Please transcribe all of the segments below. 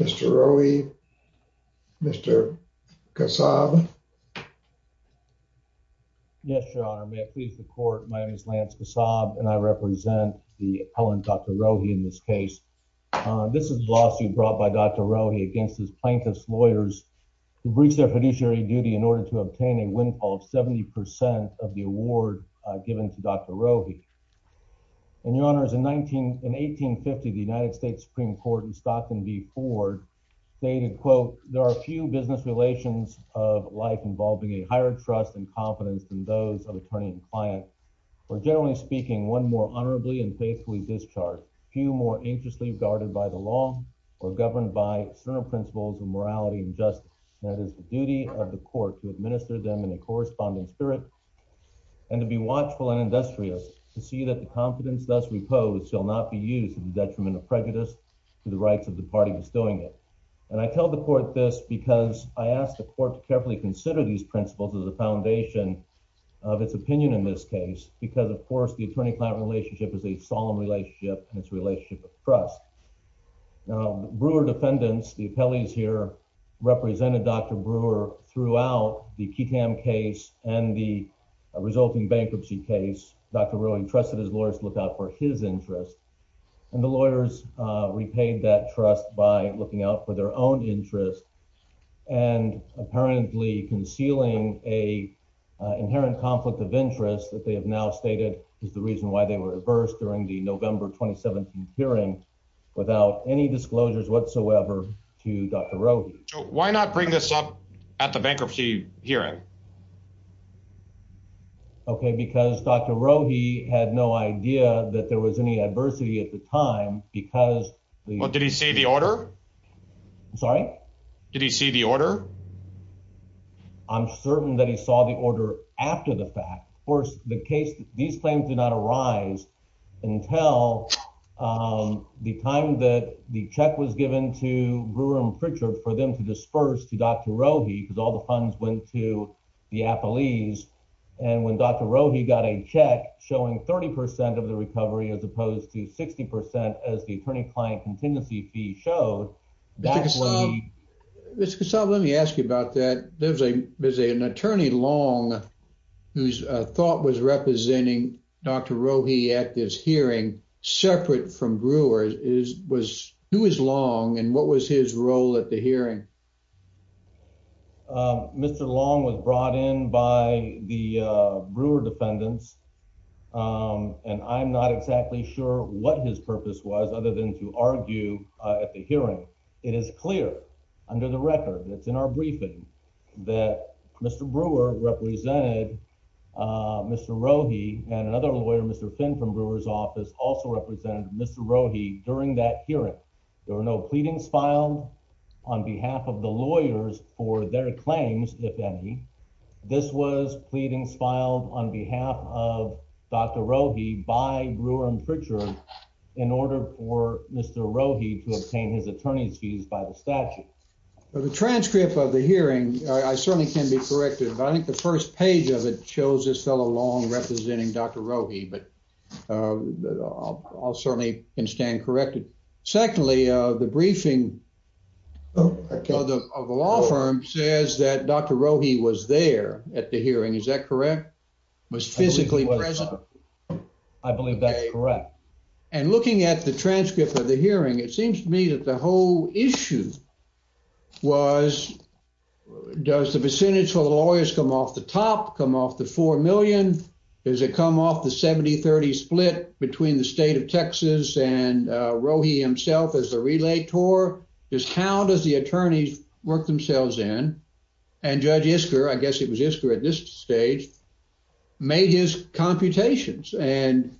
Mr. Rohi, Mr. Kasab. Yes, Your Honor, may I please report my name is Lance Kasab and I represent the appellant Dr. Rohi in this case. This is a lawsuit brought by Dr. Rohi against his plaintiff's lawyers who breached their fiduciary duty in order to obtain a windfall of 70 percent of the award given to Dr. Rohi. And Your Honor, in 1850 the United States Supreme Court in Stockton v Ford stated, quote, there are few business relations of life involving a higher trust and confidence than those of attorney and client, or generally speaking, one more honorably and faithfully discharged, few more anxiously guarded by the law or governed by certain principles of morality and justice. That is the duty of the court to administer them in a corresponding spirit and to be watchful and industrious to see that the confidence thus reposed shall not be used to the detriment of prejudice to the rights of the party bestowing it. And I tell the court this because I asked the court to carefully consider these principles as a foundation of its opinion in this case, because, of course, the attorney client relationship is a solemn relationship and its relationship of trust. Now, Brewer defendants, the appellees here represented Dr. Brewer throughout the Ketam case and the resulting bankruptcy case. Dr. Rohi trusted his lawyers look out for his interest, and the lawyers repaid that trust by looking out for their own interest and apparently concealing a inherent conflict of interest that they have now stated is the reason why they were reversed during the November 2017 hearing without any disclosures whatsoever to Dr. Rohi. Why not bring this up at the bankruptcy hearing? Okay, because Dr. Rohi had no idea that there was any adversity at the time because did he see the order? I'm sorry? Did he see the order? I'm certain that he saw the order after the fact. Of course, the case, these claims did not arise until the time that the check was given to Brewer and Frichard for them to disperse to Dr. Rohi because all the funds went to the appellees. And when Dr. Rohi got a check showing 30 percent of the recovery as opposed to 60 percent as the attorney-client contingency fee showed, that's why... Mr. Kasab, let me ask you about that. There's an attorney, Long, whose thought was representing Dr. Rohi at this hearing separate from Brewer. Who is Long and what was his role at the hearing? Mr. Long was brought in by the Brewer defendants, and I'm not exactly sure what his purpose was other than to argue at the hearing. It is clear under the record, it's in our briefing, that Mr. Brewer represented Mr. Rohi and another lawyer, Mr. Finn from Brewer's office, also represented Mr. Rohi during that hearing. There were no pleadings filed on behalf of the lawyers for their claims, if any. This was pleadings filed on behalf of Dr. Rohi by Brewer and Frichard in order for Mr. Rohi to obtain his attorney's fees by the statute. The transcript of the hearing, I certainly can be corrected, but I think the first page of it shows this fellow Long representing Dr. Rohi, but I'll certainly can stand corrected. Secondly, the briefing of the law firm says that Dr. Rohi was there at the hearing. Is that correct? Was physically present? I believe that's correct. And looking at the transcript of the hearing, it seems to me that the whole issue was, does the percentage for the lawyers come off the top, come off the 4 million? Does it come off the 70-30 split between the state of Texas and Relator? Just how does the attorneys work themselves in? And Judge Isker, I guess it was Isker at this stage, made his computations and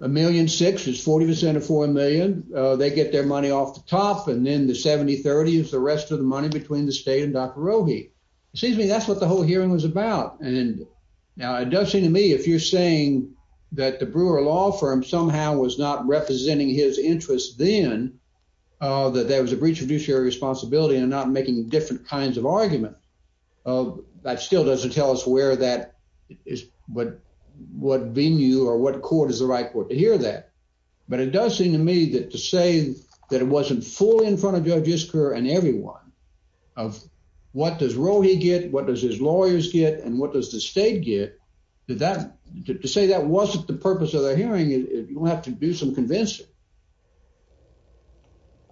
a million six is 40% of 4 million. They get their money off the top and then the 70-30 is the rest of the money between the state and Dr. Rohi. It seems to me that's what the whole hearing was about. And now it does seem to me, if you're saying that the Brewer law firm somehow was not representing his interests then, that there was a breach of judiciary responsibility and not making different kinds of arguments, that still doesn't tell us where that is, what venue or what court is the right court to hear that. But it does seem to me that to say that it wasn't fully in front of Judge Isker and everyone of what does Rohi get, what does his lawyers get, and what does the state get, did that, to say that wasn't the purpose of the hearing, you'll have to do some convincing.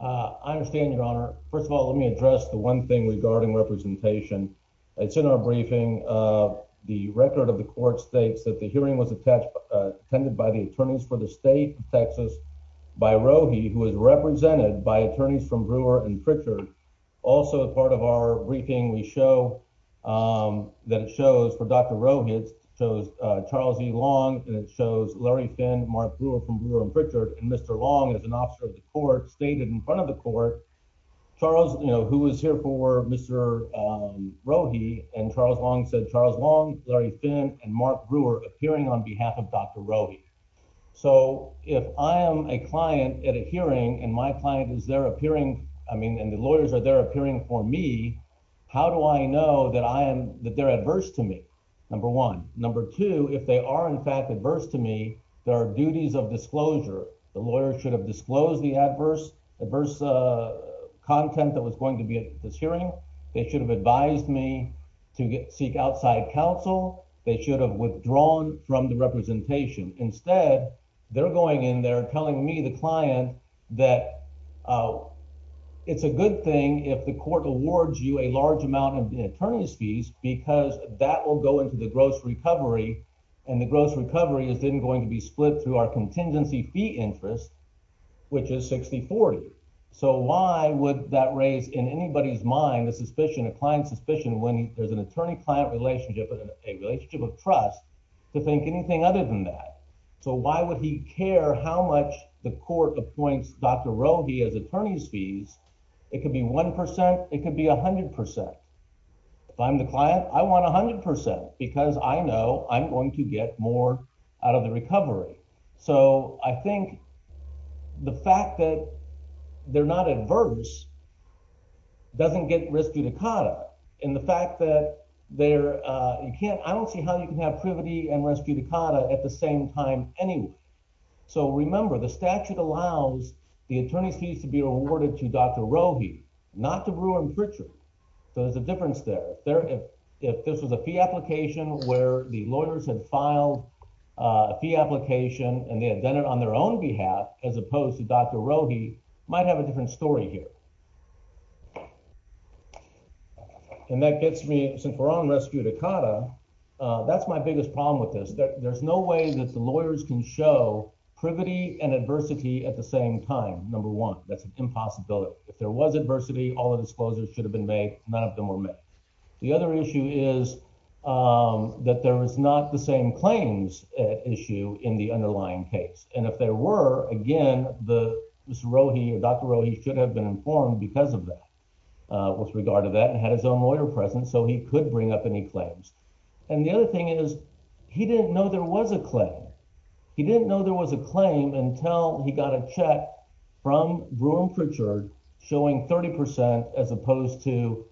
Uh, I understand your honor. First of all, let me address the one thing regarding representation. It's in our briefing, uh, the record of the court states that the hearing was attached, attended by the attorneys for the state of Texas by Rohi, who is represented by attorneys from also a part of our briefing. We show, um, that it shows for Dr. Rohi, it shows, uh, Charles E. Long, and it shows Larry Finn, Mark Brewer from Brewer and Pritchard. And Mr. Long is an officer of the court, stated in front of the court, Charles, you know, who was here for Mr. Rohi, and Charles Long said, Charles Long, Larry Finn, and Mark Brewer appearing on behalf of Dr. Rohi. So if I am a client at a hearing and my client is there appearing, I mean, the lawyers are there appearing for me, how do I know that I am, that they're adverse to me? Number one. Number two, if they are in fact adverse to me, there are duties of disclosure. The lawyer should have disclosed the adverse, adverse, uh, content that was going to be at this hearing. They should have advised me to get, seek outside counsel. They should have withdrawn from the representation. Instead, they're going in there telling me, the client, that, uh, it's a good thing if the court awards you a large amount of attorney's fees, because that will go into the gross recovery. And the gross recovery is then going to be split through our contingency fee interest, which is 60-40. So why would that raise in anybody's mind, a suspicion, a client suspicion, when there's an attorney-client relationship, a relationship of trust, to think anything other than that? So why would he care how much the court appoints Dr. Rogge as attorney's fees? It could be 1%. It could be 100%. If I'm the client, I want 100%, because I know I'm going to get more out of the recovery. So I think the fact that they're not adverse doesn't get res judicata. And the fact that they're, uh, you can't, I don't see how you can have privity and res judicata at the same time anyway. So remember, the statute allows the attorney's fees to be awarded to Dr. Rogge, not to Brewer and Pritchard. So there's a difference there. If this was a fee application where the lawyers had filed a fee application and they had done it on their own behalf, as opposed to Dr. Rogge, might have a different story here. And that gets me, since we're on res judicata, that's my biggest problem with this. There's no way that the lawyers can show privity and adversity at the same time. Number one, that's an impossibility. If there was adversity, all the disclosures should have been made. None of them were made. The other issue is that there is not the same claims issue in the underlying case. And if there were, again, the Mr. Rogge or Dr. Rogge should have been informed because of that, with regard to that, had his own lawyer present so he could bring up any claims. And the other thing is he didn't know there was a claim. He didn't know there was a claim until he got a check from Brewer and Pritchard showing 30% as opposed to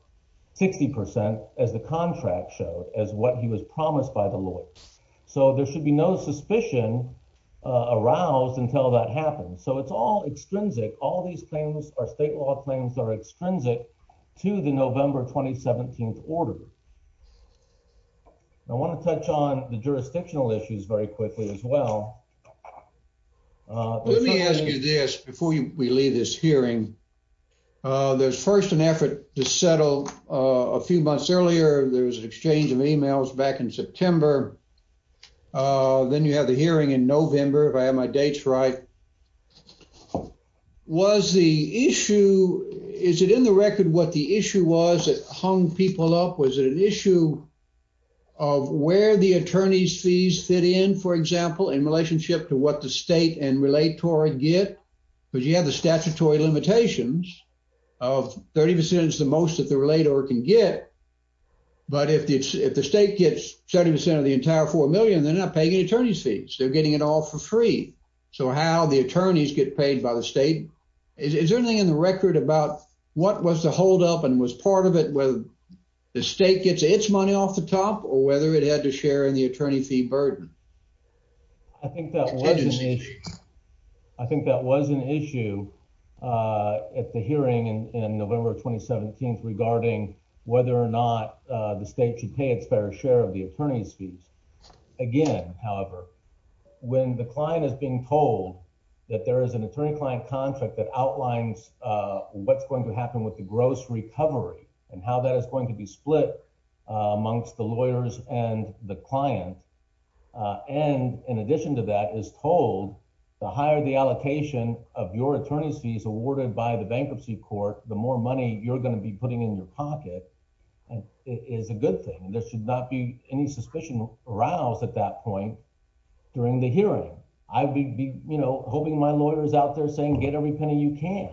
60% as the contract showed, as what he was promised by the lawyers. So there should be no suspicion aroused until that happens. So it's all extrinsic. All these are state law claims that are extrinsic to the November 2017 order. I want to touch on the jurisdictional issues very quickly as well. Let me ask you this before we leave this hearing. There's first an effort to settle a few months earlier. There was an exchange of emails back in September. Then you have the hearing in November, if I have my dates right. Was the issue, is it in the record what the issue was that hung people up? Was it an issue of where the attorney's fees fit in, for example, in relationship to what the state and relator get? Because you have the statutory limitations of 30% is the most that the relator can get. But if the state gets 70% of the entire $4 million, they're not paying any attorney's fees. They're getting it all for free. So how the attorneys get paid by the state, is there anything in the record about what was the holdup and was part of it whether the state gets its money off the top or whether it had to share in the attorney fee burden? I think that was an issue at the hearing in November 2017 regarding whether or not the state should pay its fair share of the attorney's fees. Again, however, when the client is being told that there is an attorney-client contract that outlines what's going to happen with the gross recovery and how that is going to be split amongst the lawyers and the client. And in addition to that is told the higher the allocation of your attorney's fees awarded by the bankruptcy court, the more money you're going to be putting in your hearing. I'd be hoping my lawyers out there saying, get every penny you can.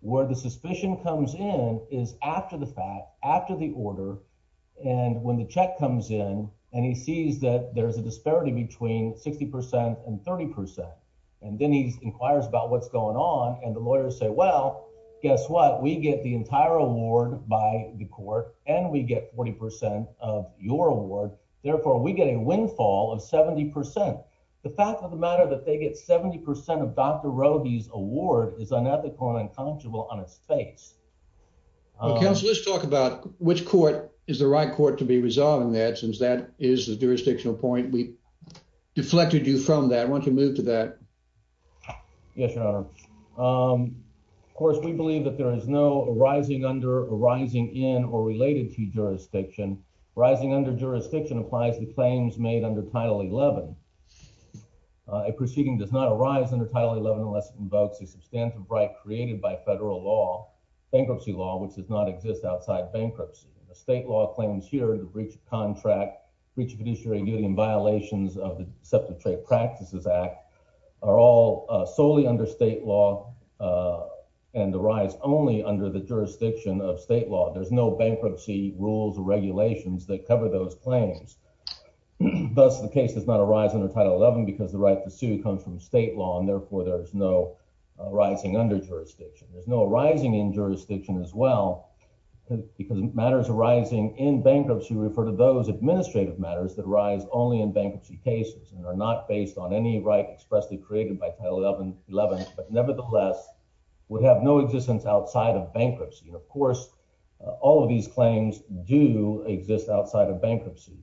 Where the suspicion comes in is after the fact, after the order. And when the check comes in and he sees that there's a disparity between 60% and 30%. And then he inquires about what's going on. And the lawyers say, well, guess what? We get the entire award by the court and we get 40% of your award. Therefore we get a windfall of 70%. The fact of the matter that they get 70% of Dr. Roby's award is unethical and unconscionable on its face. Counsel, let's talk about which court is the right court to be resolving that since that is the jurisdictional point. We deflected you from that. Why don't you move to that? Yes, your honor. Of course, we believe that there is no arising under arising in or related to jurisdiction. Rising under jurisdiction applies to claims made under title 11. A proceeding does not arise under title 11 unless it invokes a substantive right created by federal law, bankruptcy law, which does not exist outside bankruptcy. The state law claims here, the breach of contract, breach of judiciary duty and violations of the Deceptive Trade Practices Act are all solely under state law and the rise only under the jurisdiction of state law. There's no bankruptcy rules or regulations that cover those claims. Thus the case does not arise under title 11 because the right to sue comes from state law and therefore there's no rising under jurisdiction. There's no arising in jurisdiction as well because matters arising in bankruptcy refer to those administrative matters that arise only in bankruptcy cases and are not based on any right expressly created by title 11, but nevertheless would have no existence outside of bankruptcy. Of course, all of these claims do exist outside of bankruptcy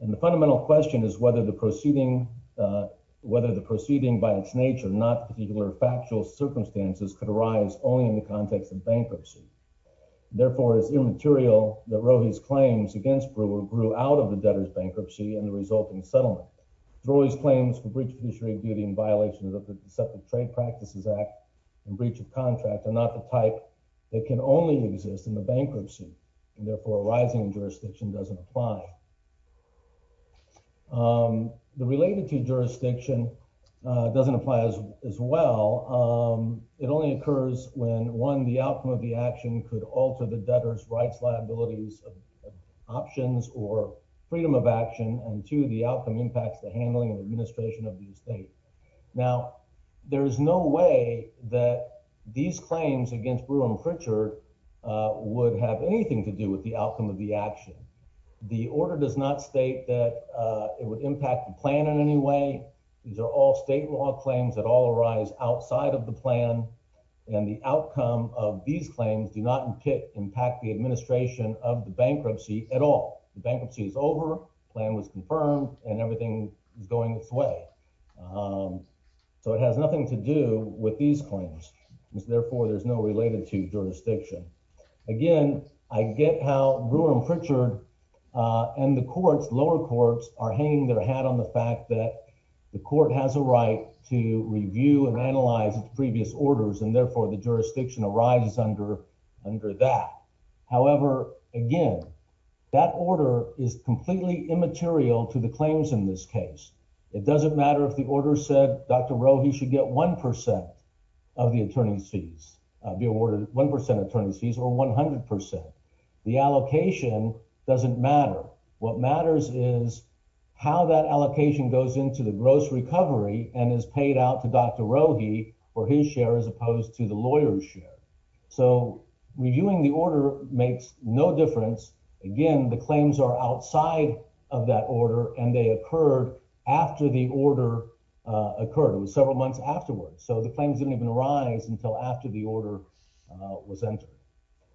and the fundamental question is whether the proceeding by its nature, not particular factual circumstances, could arise only in the context of bankruptcy. Therefore, it's immaterial that Rohe's claims against Brewer grew out of the debtor's bankruptcy and the resulting settlement. Rohe's claims for breach of judiciary duty and violations of the Deceptive Trade Practices Act and breach of contract are not a type that can only exist in the bankruptcy and therefore arising in jurisdiction doesn't apply. The related to jurisdiction doesn't apply as as well. It only occurs when, one, the outcome of the action could alter the debtor's rights, liabilities, options, or freedom of action, and two, the outcome impacts the handling and administration of the estate. Now there is no way that these claims against Brewer and Pritchard would have anything to do with the outcome of the action. The order does not state that it would impact the plan in any way. These are all state law claims that all arise outside of the plan and the outcome of these claims do not impact the administration of the bankruptcy at all. The bankruptcy is over, plan was confirmed, and everything is going its way. So it has nothing to do with these claims. Therefore, there's no related to jurisdiction. Again, I get how Brewer and Pritchard and the courts, lower courts, are hanging their hat on the fact that the court has a right to review and analyze its previous orders and therefore the jurisdiction arises under under that. However, again, that order is completely immaterial to the claims in this case. It doesn't matter if the order said Dr. Rohe should get one percent of the attorney's fees, be awarded one percent attorney's fees, or 100 percent. The allocation doesn't matter. What matters is how that allocation goes into the gross recovery and is paid out to Dr. Rohe for his share as opposed to the lawyer's share. So reviewing the order makes no difference. Again, the claims are outside of that order, and they occurred after the order occurred. It was several months afterwards, so the claims didn't even arise until after the order was entered.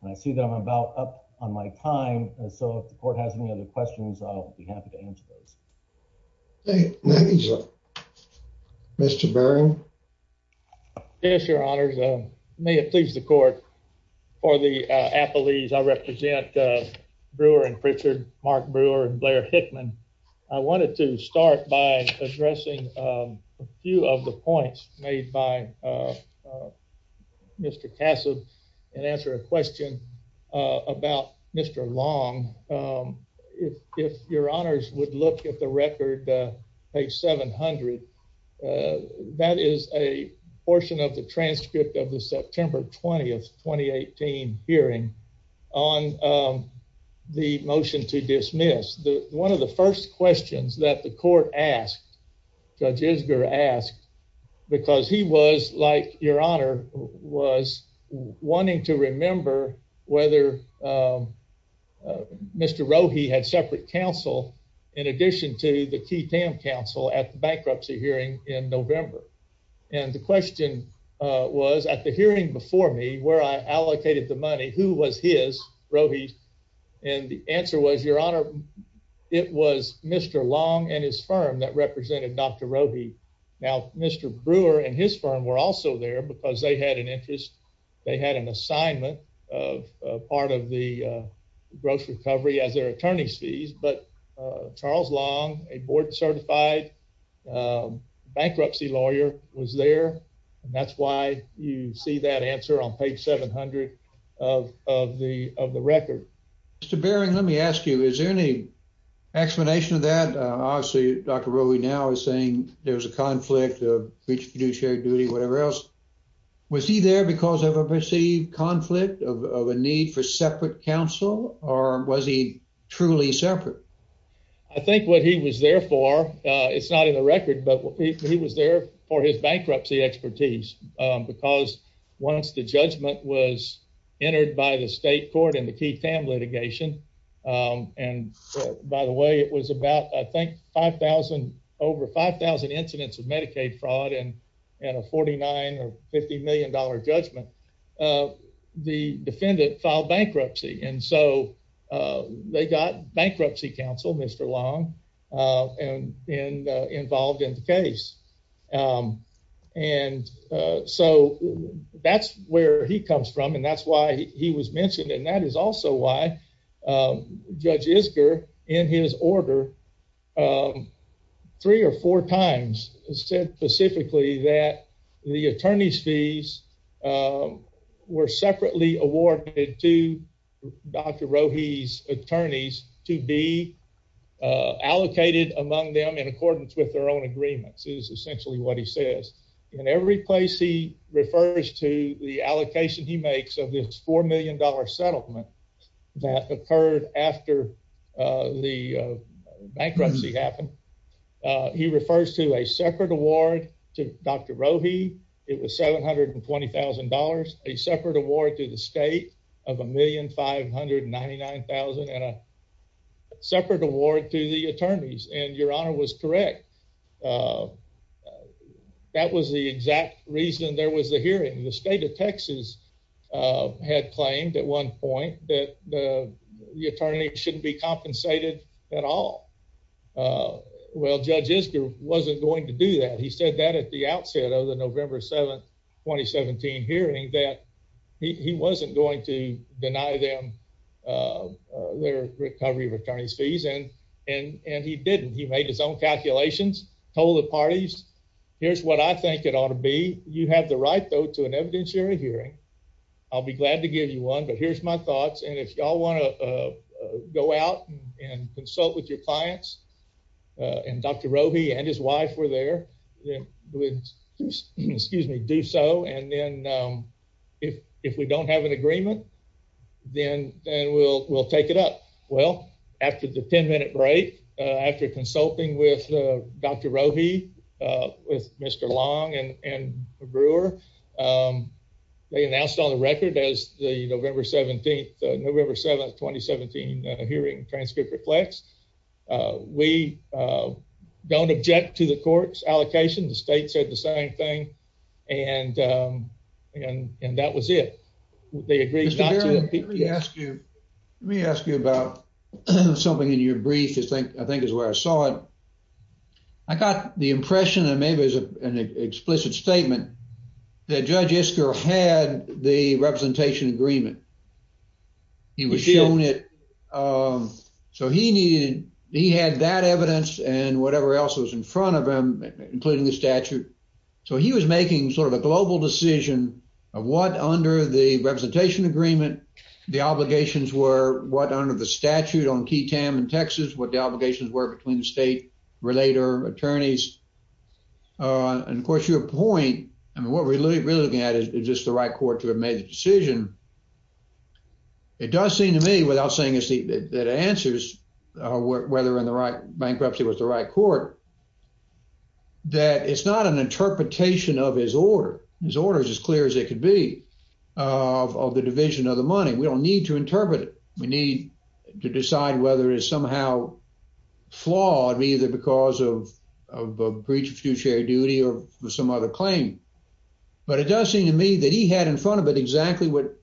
And I see that I'm about up on my time, so if the court has any other questions, I'll be happy to answer those. Thank you, Mr. Barron. Yes, your honors. May it please the court. For the appellees, I represent Brewer and Pritchard, Mark Brewer and Blair Hickman. I wanted to start by addressing a few of the points made by Mr. Cassid and answer a question about Mr. Long. If your honors would look at the record, page 700, that is a portion of the transcript of the September 20, 2018 hearing on the motion to dismiss. One of the first questions that the court asked, Judge Isger asked, because he was, your honor, was wanting to remember whether Mr. Rohe had separate counsel in addition to the Key Tam counsel at the bankruptcy hearing in November. And the question was at the hearing before me where I allocated the money, who was his, Rohe, and the answer was, your honor, it was Mr. Long and his firm that represented Dr. Rohe. Now Mr. Brewer and his firm were also there because they had an interest. They had an assignment of part of the gross recovery as their attorney's fees. But Charles Long, a board certified bankruptcy lawyer, was there. And that's why you see that answer on page 700 of the record. Mr. Barron, let me ask you, is there any explanation of that? Obviously, Dr. Rohe now is saying there's a conflict of shared duty, whatever else. Was he there because of a perceived conflict of a need for separate counsel or was he truly separate? I think what he was there for, it's not in the record, but he was there for his bankruptcy expertise because once the judgment was entered by the state court and the Key Tam litigation, and by the way, it was about, I think, 5,000, over 5,000 incidents of Medicaid fraud and a $49 or $50 million judgment, the defendant filed bankruptcy. And so they got bankruptcy counsel, Mr. Long, involved in the case. And so that's where he comes from, and that's why he was mentioned. And that is also why Judge Isger, in his order, um, three or four times said specifically that the attorney's fees were separately awarded to Dr. Rohe's attorneys to be allocated among them in accordance with their own agreements, is essentially what he says. In every place he refers to the allocation he makes of this $4 million settlement that occurred after the bankruptcy happened. He refers to a separate award to Dr. Rohe. It was $720,000, a separate award to the state of $1,599,000 and a separate award to the attorneys. And Your Honor was correct. Um, that was the exact reason there was a hearing. The state of Texas had claimed at one point that the attorney shouldn't be compensated at all. Well, Judge Isger wasn't going to do that. He said that at the outset of the November 7, 2017 hearing that he wasn't going to deny them their recovery of attorney's fees, and he didn't. He made his own calculations, told the parties, here's what I think it ought to be. You have the right, though, to an evidentiary hearing. I'll be glad to give you one, but here's my thoughts. And if y'all want to go out and consult with your clients, and Dr. Rohe and his wife were there, excuse me, do so. And then if we don't have an agreement, then we'll take it up. Well, after the 10-minute break, after consulting with Dr. Rohe, with Mr. Long and Brewer, they announced on the record as the November 17, November 7, 2017 hearing transcript reflects, we don't object to the court's allocation. The state said the same thing, and that was it. They agreed not to. Mr. Garrett, let me ask you about something in your brief, I think is where I saw it. I got the impression, and maybe it's an explicit statement, that Judge Isker had the representation agreement. He was shown it. So he needed, he had that evidence and whatever else was in front of him, including the statute. So he was making sort of a global decision of what, under the representation agreement, the obligations were, what under the statute on Key Tam and Texas, what the obligations were between the state-related attorneys. And of course, your point, I mean, what we're really looking at is, is this the right court to have made the decision? It does seem to me, without saying that it answers whether in the right, bankruptcy was the right court, that it's not an interpretation of his order. His order is as clear as it could be of the division of the money. We don't need to interpret it. We need to decide whether it is somehow flawed, either because of a breach of fiduciary duty or some other claim. But it does seem to me that he had in front of it exactly what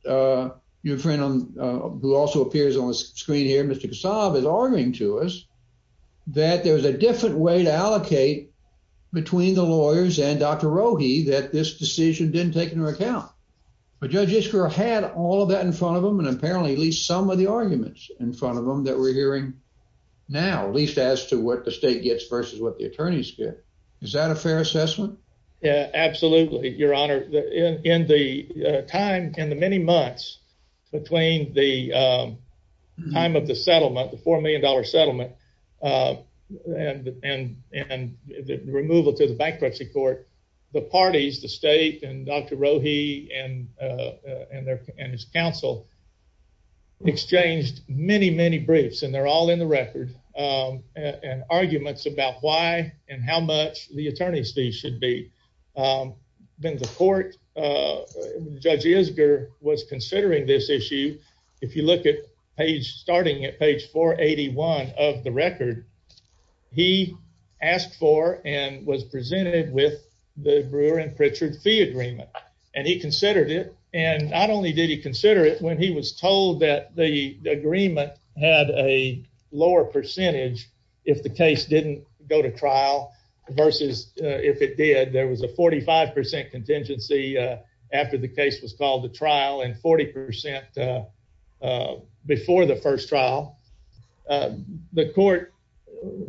your friend, who also appears on the screen here, Mr. Kasab, is arguing to us, that there's a different way to allocate between the lawyers and Dr. Rohe, that this decision didn't take into account. But Judge Iskra had all of that in front of him, and apparently at least some of the arguments in front of him that we're hearing now, at least as to what the state gets versus what the attorneys get. Is that a fair assessment? Yeah, absolutely, your honor. In the time, in the many months between the time of the settlement, the four million dollar settlement, and the removal to the bankruptcy court, the parties, the state, and Dr. Rohe, and his counsel, exchanged many, many briefs, and they're all in the record, and arguments about why and how much the attorney's fee should be. Then the court, Judge Iskra was considering this issue. If you look at page, starting at page 481 of the record, he asked for and was presented with the Brewer and Pritchard fee agreement, and he considered it. Not only did he consider it when he was told that the agreement had a lower percentage if the case didn't go to trial, versus if it did, there was a 45% contingency after the case was called to trial, and 40% before the first trial. The court,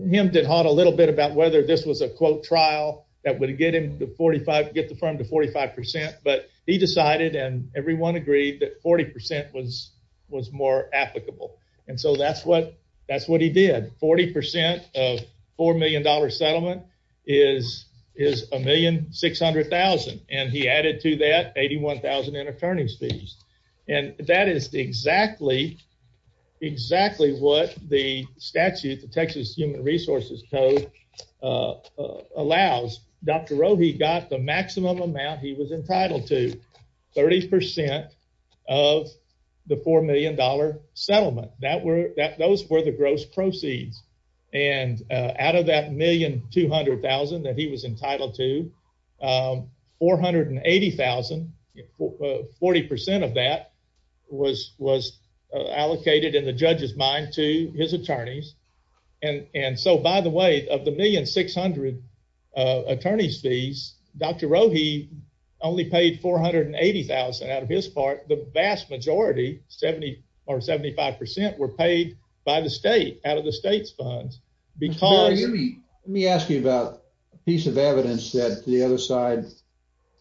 him did hot a little bit about whether this was a quote trial that would get him to 45, get the firm to 45%, but he decided and everyone agreed that 40% was more applicable, and so that's what he did. 40% of four million dollar settlement is a million six hundred thousand, and he added to that 81,000 in attorney's fees, and that is exactly what the amount he was entitled to. 30% of the four million dollar settlement. Those were the gross proceeds, and out of that 1,200,000 that he was entitled to, 480,000, 40% of that was allocated in the judge's mind to his attorneys, and so by the way, of the 1,600,000 attorney's fees, Dr. Rohe only paid 480,000 out of his part. The vast majority, 70 or 75%, were paid by the state out of the state's funds. Let me ask you about a piece of evidence that the other side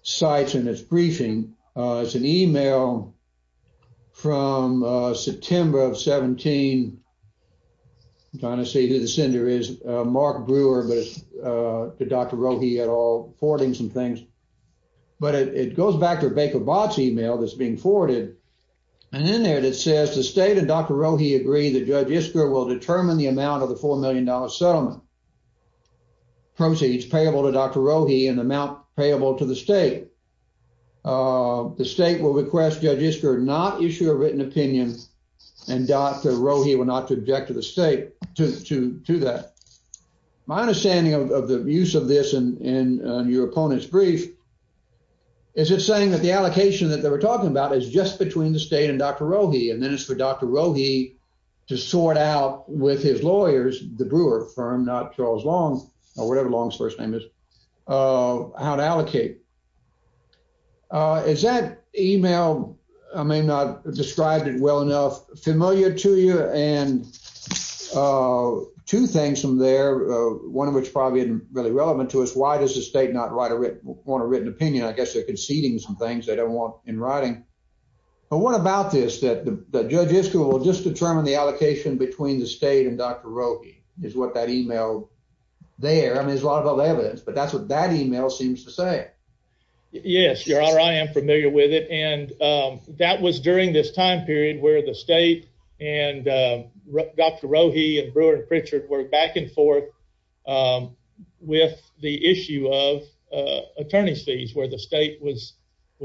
cites in this briefing. It's an email from September of 17, I'm trying to see who the sender is, Mark Brewer, but it's to Dr. Rohe et al., forwarding some things, but it goes back to Baker Bott's email that's being forwarded, and in there it says, the state and Dr. Rohe agree that Judge Isker will determine the amount of the four million dollar settlement. Proceeds payable to Dr. Rohe and amount payable to the state. The state will request Judge Isker not issue a written opinion and Dr. Rohe will not object to that. My understanding of the use of this in your opponent's brief is it's saying that the allocation that they were talking about is just between the state and Dr. Rohe, and then it's for Dr. Rohe to sort out with his lawyers, the Brewer firm, not Charles Long, or whatever Long's first name is, how to allocate. Is that email, I may not have described it well enough, familiar to you? And two things from there, one of which probably isn't really relevant to us, why does the state not want a written opinion? I guess they're conceding some things they don't want in writing. But what about this, that Judge Isker will just determine the allocation between the state and Dr. Rohe, is what that email there. I mean, there's a lot of evidence, but that's what that email seems to say. Yes, your honor, I am familiar with it, and that was during this time period where the state and Dr. Rohe and Brewer and Pritchard were back and forth with the issue of attorney's fees, where the state was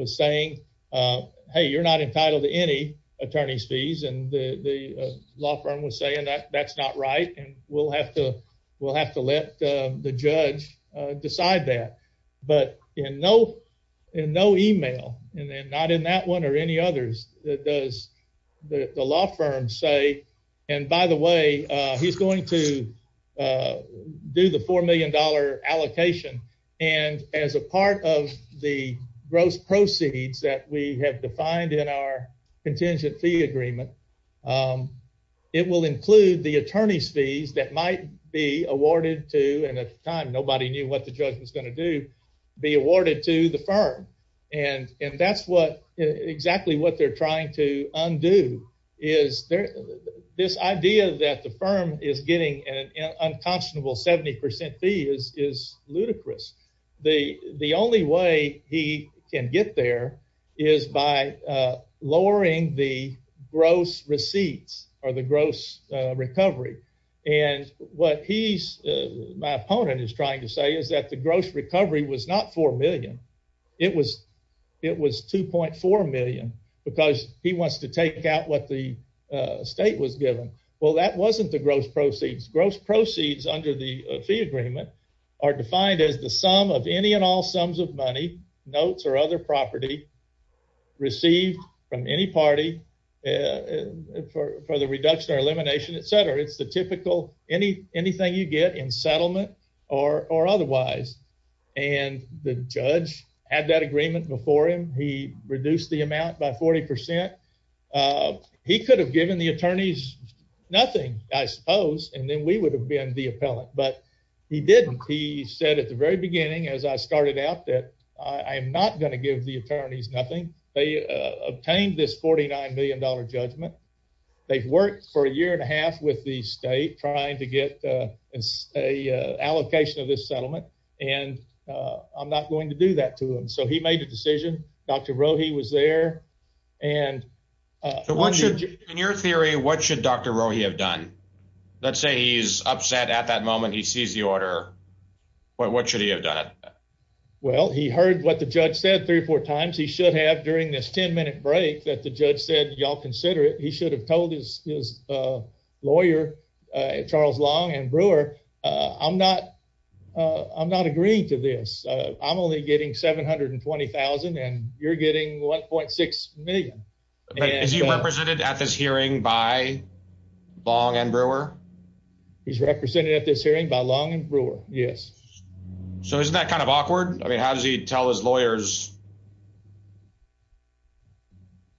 saying, hey, you're not entitled to any attorney's fees, and the law firm was saying that that's not right, and we'll have to let the judge decide that. But in no email, and not in that one or any others, does the law firm say, and by the way, he's going to do the $4 million allocation, and as a part of the gross proceeds that we have defined in our contingent fee agreement, it will include the attorney's fees that might be awarded to, and at the time nobody knew what the judge was going to do, be awarded to the firm. And that's exactly what they're trying to undo, is this idea that the firm is getting an unconscionable 70% fee is ludicrous. The only way he can get there is by lowering the gross receipts or the gross recovery. And what he's, my opponent, is trying to say is that the gross recovery was not $4 million. It was $2.4 million because he wants to take out what the state was given. Well, that wasn't the gross proceeds. Gross proceeds under the fee agreement are defined as the sum of any and all sums of money, notes or other property, received from any party for the reduction or elimination, etc. It's the typical anything you get in settlement or otherwise. And the judge had that agreement before him. He reduced the amount by 40%. He could have given the attorneys nothing, I suppose, and then we would have been the appellant. But he didn't. He said at the very beginning, as I started out, that I am not going to give the attorneys nothing. They obtained this $49 million judgment. They've worked for a year and a half with the state trying to get an allocation of this settlement, and I'm not going to do that to him. So he made a decision. Dr. Rohe was there. So in your theory, what should Dr. Rohe have done? Let's say he's upset at that moment, he sees the order. What should he have done? Well, he heard what the judge said three or four times. He should have during this 10-minute break that the judge said, y'all consider it. He should have told his lawyer, Charles Long and Brewer, I'm not agreeing to this. I'm only getting $720,000 and you're getting $1.6 million. Is he represented at this hearing by Long and Brewer? He's represented at this hearing by Long and Brewer, yes. So isn't that kind of awkward? I mean, how does he tell his lawyers?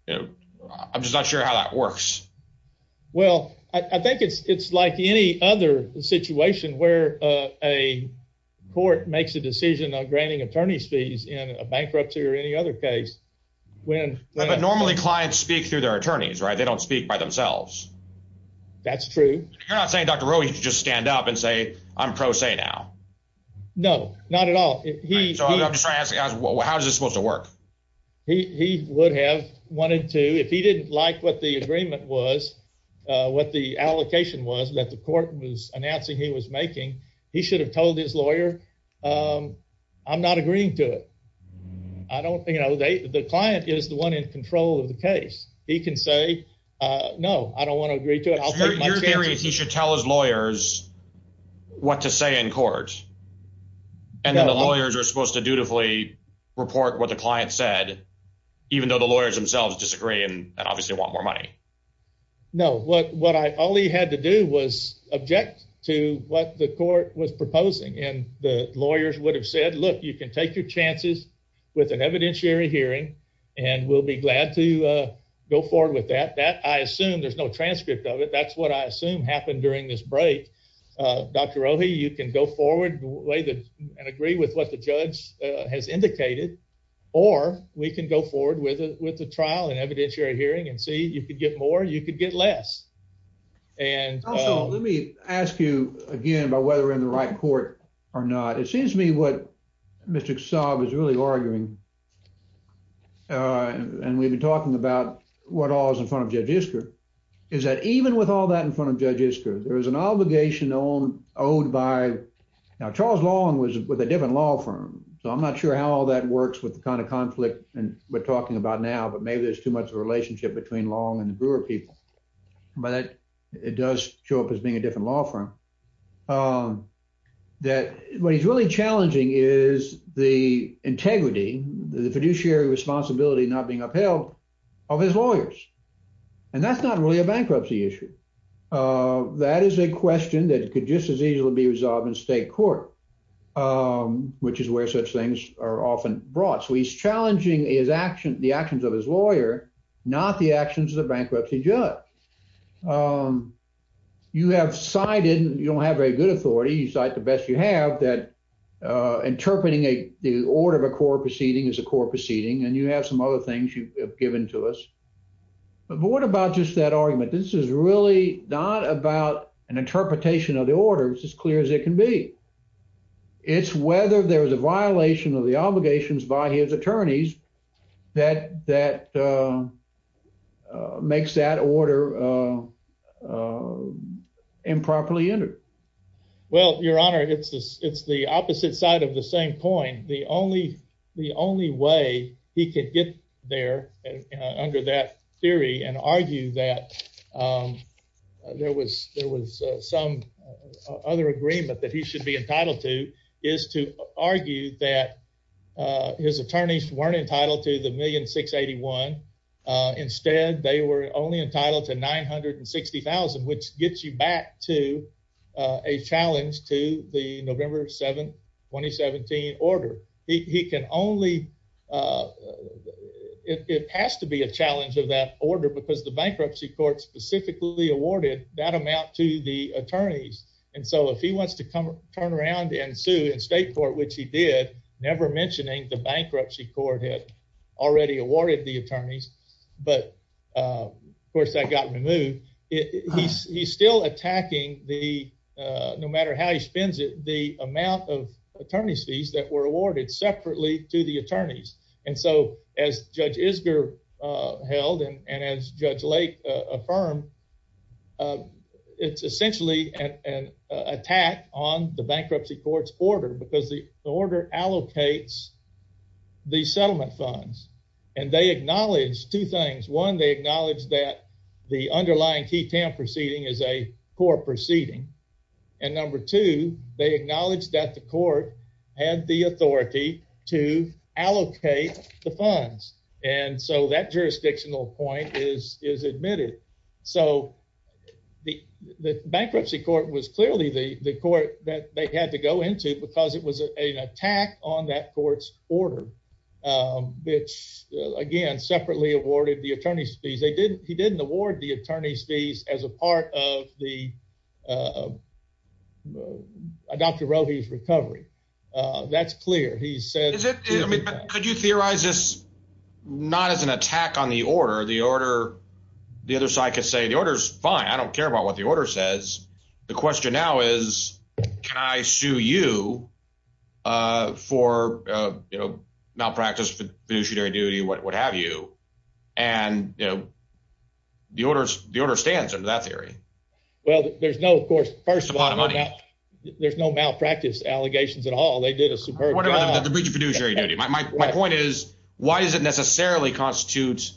I'm just not sure how that works. Well, I think it's like any other situation where a court makes a decision on granting attorney's fees in a bankruptcy or any other case. But normally, clients speak through their attorneys, right? They don't speak by themselves. That's true. You're not saying Dr. Rohe should just stand up and say, I'm pro se now? No, not at all. How is this supposed to work? He would have wanted to, if he didn't like what the agreement was, what the allocation was that the court was announcing he was making, he should have told his lawyer, I'm not agreeing to it. The client is the one in control of the case. He can say, no, I don't want to agree to it. Your theory is he should tell his lawyers what to say in court. And then the lawyers are supposed to dutifully report what the client said, even though the lawyers themselves disagree and obviously want more money. No, all he had to do was object to what the court was proposing. And the lawyers would have said, look, you can take your chances with an evidentiary hearing, and we'll be glad to go forward with that. I assume there's no transcript of it. That's what I assume happened during this break. Dr. Rohe, you can go forward and agree with what the judge has indicated, or we can go forward with a trial and evidentiary hearing and see, you could get more, you could get less. Also, let me ask you again about whether we're in the right court or not. It seems to me what Mr. Kasab is really arguing, and we've been talking about what all is in front of Judge Isker, is that even with all that in front of Judge Isker, there is an obligation owed by, now Charles Long was with a different law firm, so I'm not sure how all that works with the kind of conflict we're talking about now, but maybe there's too much of a relationship between Long and the Brewer people. But it does show up as a different law firm, that what he's really challenging is the integrity, the fiduciary responsibility not being upheld of his lawyers. And that's not really a bankruptcy issue. That is a question that could just as easily be resolved in state court, which is where such things are often brought. So he's challenging the actions of his lawyer, not the actions of the bankruptcy judge. You have cited, you don't have very good authority, you cite the best you have, that interpreting the order of a court proceeding is a court proceeding, and you have some other things you've given to us. But what about just that argument? This is really not about an interpretation of the order, it's as clear as it can be. It's whether there's a violation of the obligations by his attorneys that makes that order improperly entered. Well, your honor, it's the opposite side of the same coin. The only way he could get there under that theory and argue that there was some other agreement that he should be entitled to is to argue that his attorneys weren't entitled to the $1,000,681. Instead, they were only entitled to $960,000, which gets you back to a challenge to the November 7, 2017 order. He can only, it has to be a challenge of that order because the bankruptcy court specifically awarded that amount to the attorneys. And so if he wants to turn around and sue in state court, which he did, never mentioning the bankruptcy court had already awarded the attorneys, but of course that got removed, he's still attacking the, no matter how he spends it, the amount of attorney's fees that were awarded separately to the attorneys. And so as Judge Isger held and as Judge Lake affirmed, it's essentially an attack on the bankruptcy court's order because the order allocates the settlement funds and they acknowledge two things. One, they acknowledge that the underlying key tamp proceeding is a core proceeding. And number two, they acknowledge that the court had the authority to allocate the funds. And so that jurisdictional point is admitted. So the bankruptcy court was clearly the court that they had to go into because it was an attack on that court's order, which again, separately awarded the attorney's as a part of the, Dr. Rohe's recovery. That's clear. He said- Could you theorize this not as an attack on the order, the order, the other side could say the order's fine. I don't care about what the order says. The question now is, can I sue you for malpractice, fiduciary duty, what have you? And the order stands under that theory. Well, there's no, of course, first of all, there's no malpractice allegations at all. They did a superb job. My point is, why does it necessarily constitute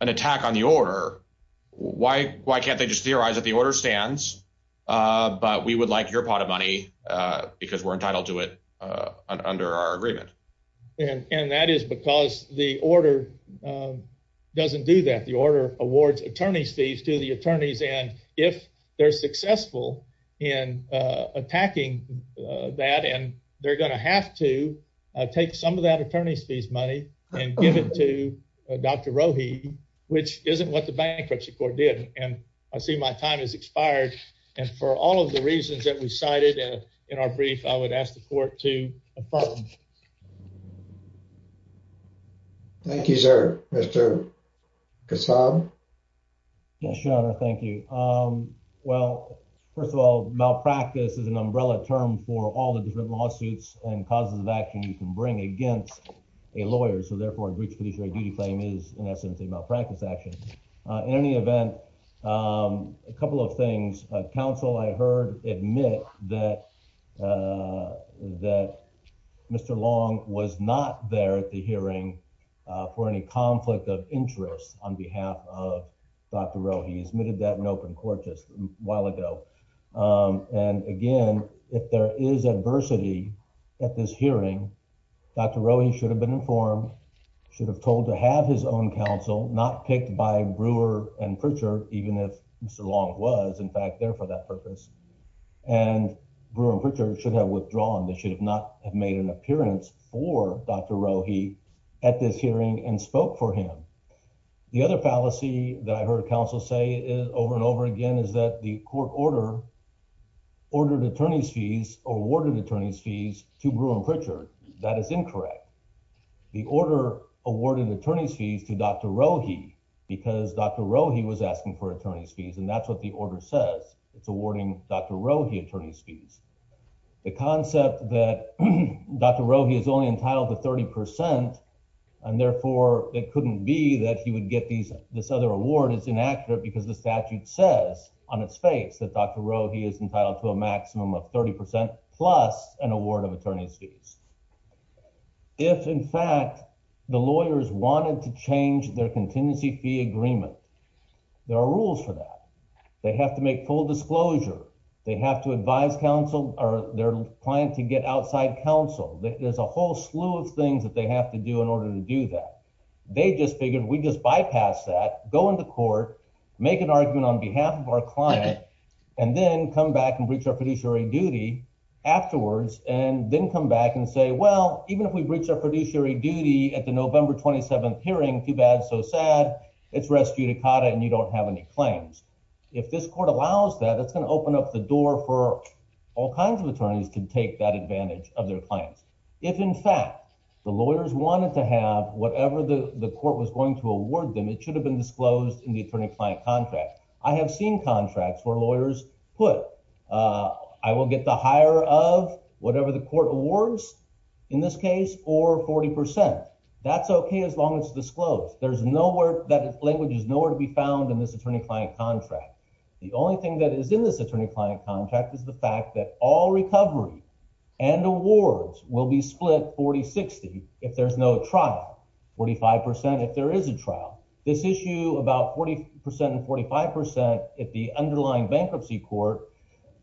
an attack on the order? Why can't they just theorize that the order stands, but we would like your pot of money because we're entitled to it under our agreement. And that is because the order doesn't do that. The order awards attorney's fees to the attorneys. And if they're successful in attacking that, and they're going to have to take some of that attorney's fees money and give it to Dr. Rohe, which isn't what the bankruptcy court did. And I see my time has expired. And for all of the reasons that we cited in our brief, I would ask for your support to advance. Thank you, sir. Mr. Kasab. Yes, your honor. Thank you. Well, first of all, malpractice is an umbrella term for all the different lawsuits and causes of action you can bring against a lawyer. So therefore, a breach of fiduciary duty claim is in essence, a malpractice action. In any event, a couple of things, counsel, I heard admit that that Mr. Long was not there at the hearing for any conflict of interest on behalf of Dr. Rohe. He admitted that in open court just a while ago. And again, if there is adversity at this hearing, Dr. Rohe should have been informed, should have told to have his own counsel, not picked by Brewer and Pritchard, even if Mr. Long was in fact there for that purpose and Brewer and Pritchard should have withdrawn. They should have not have made an appearance for Dr. Rohe at this hearing and spoke for him. The other fallacy that I heard counsel say is over and over again is that the court order ordered attorney's fees or awarded attorney's fees to Brewer and Pritchard. That is incorrect. The order awarded attorney's fees to Dr. Rohe because Dr. Rohe he was asking for the concept that Dr. Rohe is only entitled to 30 percent and therefore it couldn't be that he would get these this other award is inaccurate because the statute says on its face that Dr. Rohe is entitled to a maximum of 30 plus an award of attorney's fees. If in fact the lawyers wanted to change their contingency fee agreement, there are rules for that. They have to make full disclosure. They have to advise counsel or their client to get outside counsel. There's a whole slew of things that they have to do in order to do that. They just figured we just bypass that, go into court, make an argument on behalf of our client, and then come back and breach our fiduciary duty afterwards and then come back and say, well, even if we breach our fiduciary duty at the November 27th hearing, too bad, so sad. It's res judicata and you don't have any claims. If this court allows that, it's going to open up the door for all kinds of attorneys to take that advantage of their clients. If in fact the lawyers wanted to have whatever the the court was going to award them, it should have been disclosed in the attorney-client contract. I have seen contracts where lawyers put I will get the higher of whatever the court awards in this case or 40 percent. That's okay as long as it's disclosed. There's nowhere that language is nowhere to be found in this attorney-client contract. The only thing that is in this attorney-client contract is the fact that all recovery and awards will be split 40-60 if there's no trial, 45 percent if there is a trial. This issue about 40 percent and 45 percent at the underlying bankruptcy court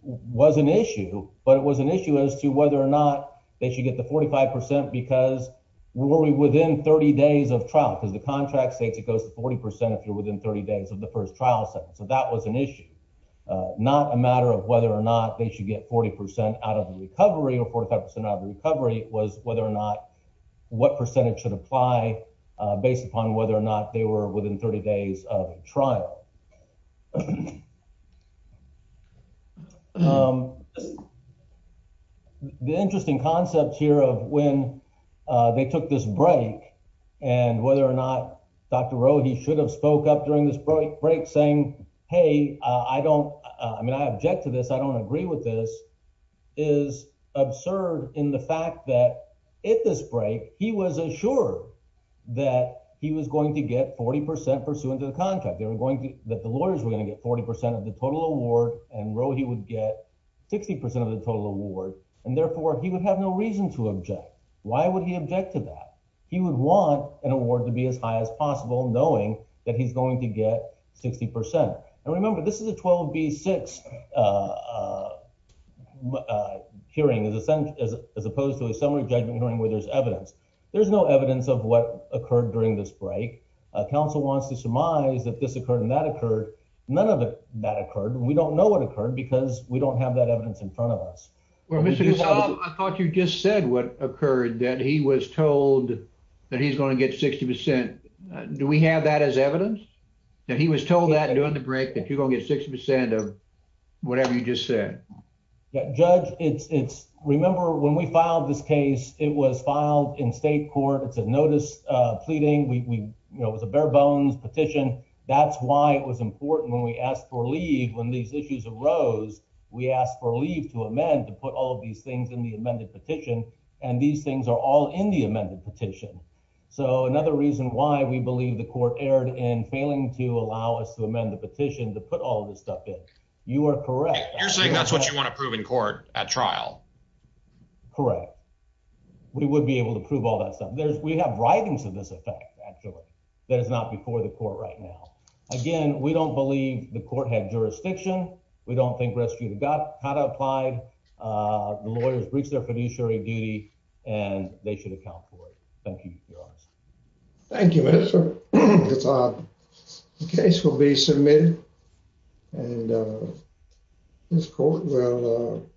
was an issue, but it was an issue as to whether or not they should get the 45 percent because we're within 30 days of trial because the contract states it goes to 40 percent if you're within 30 days of the first trial session. So that was an issue, not a matter of whether or not they should get 40 percent out of the recovery or 45 percent out of the recovery. It was whether or not what percentage should apply based upon whether or not they were within 30 days of a trial. The interesting concept here of when they took this break and whether or not Dr. Rohe should have spoke up during this break saying, hey, I object to this. I don't agree with this is absurd in the fact that at this break he was assured that he was going to get 40 percent pursuant to the contract. They were going to that the lawyers were going to get 40 percent of the total award and Rohe would get 60 percent of the total award and therefore he would have no reason to object. Why would he object to that? He would want an award to be as high as possible knowing that he's going to get 60 percent. And remember, this is a 12B6 hearing as opposed to a summary judgment hearing where there's evidence. There's no evidence of what occurred during this break. Council wants to surmise that this occurred and that occurred. None of that occurred. We don't know what occurred because we don't have that evidence in front of us. Well, Mr. Gasol, I thought you just said what occurred that he was told that he's going to get 60 percent. Do we have that as evidence that he was told that during the break that you're going to get 60 percent of whatever you just said? Yeah, Judge, it's remember when we filed this case, it was filed in state court. It's a notice pleading. We know it was a bare bones petition. That's why it was important when we asked for leave. When these issues arose, we asked for leave to amend to put all of these things in the amended petition. And these things are all in the amended petition. So another reason why we believe the court erred in failing to allow us to amend the petition to put all of this stuff in. You are correct. You're saying that's what you want to prove in court at trial? Correct. We would be able to prove all that stuff. There's we have writings of this effect, actually, that is not before the court right now. Again, we don't believe the court had jurisdiction. We don't think you've got how to apply. The lawyers breach their fiduciary duty and they should account for it. Thank you. Thank you, Mr. It's a case will be submitted and this court will.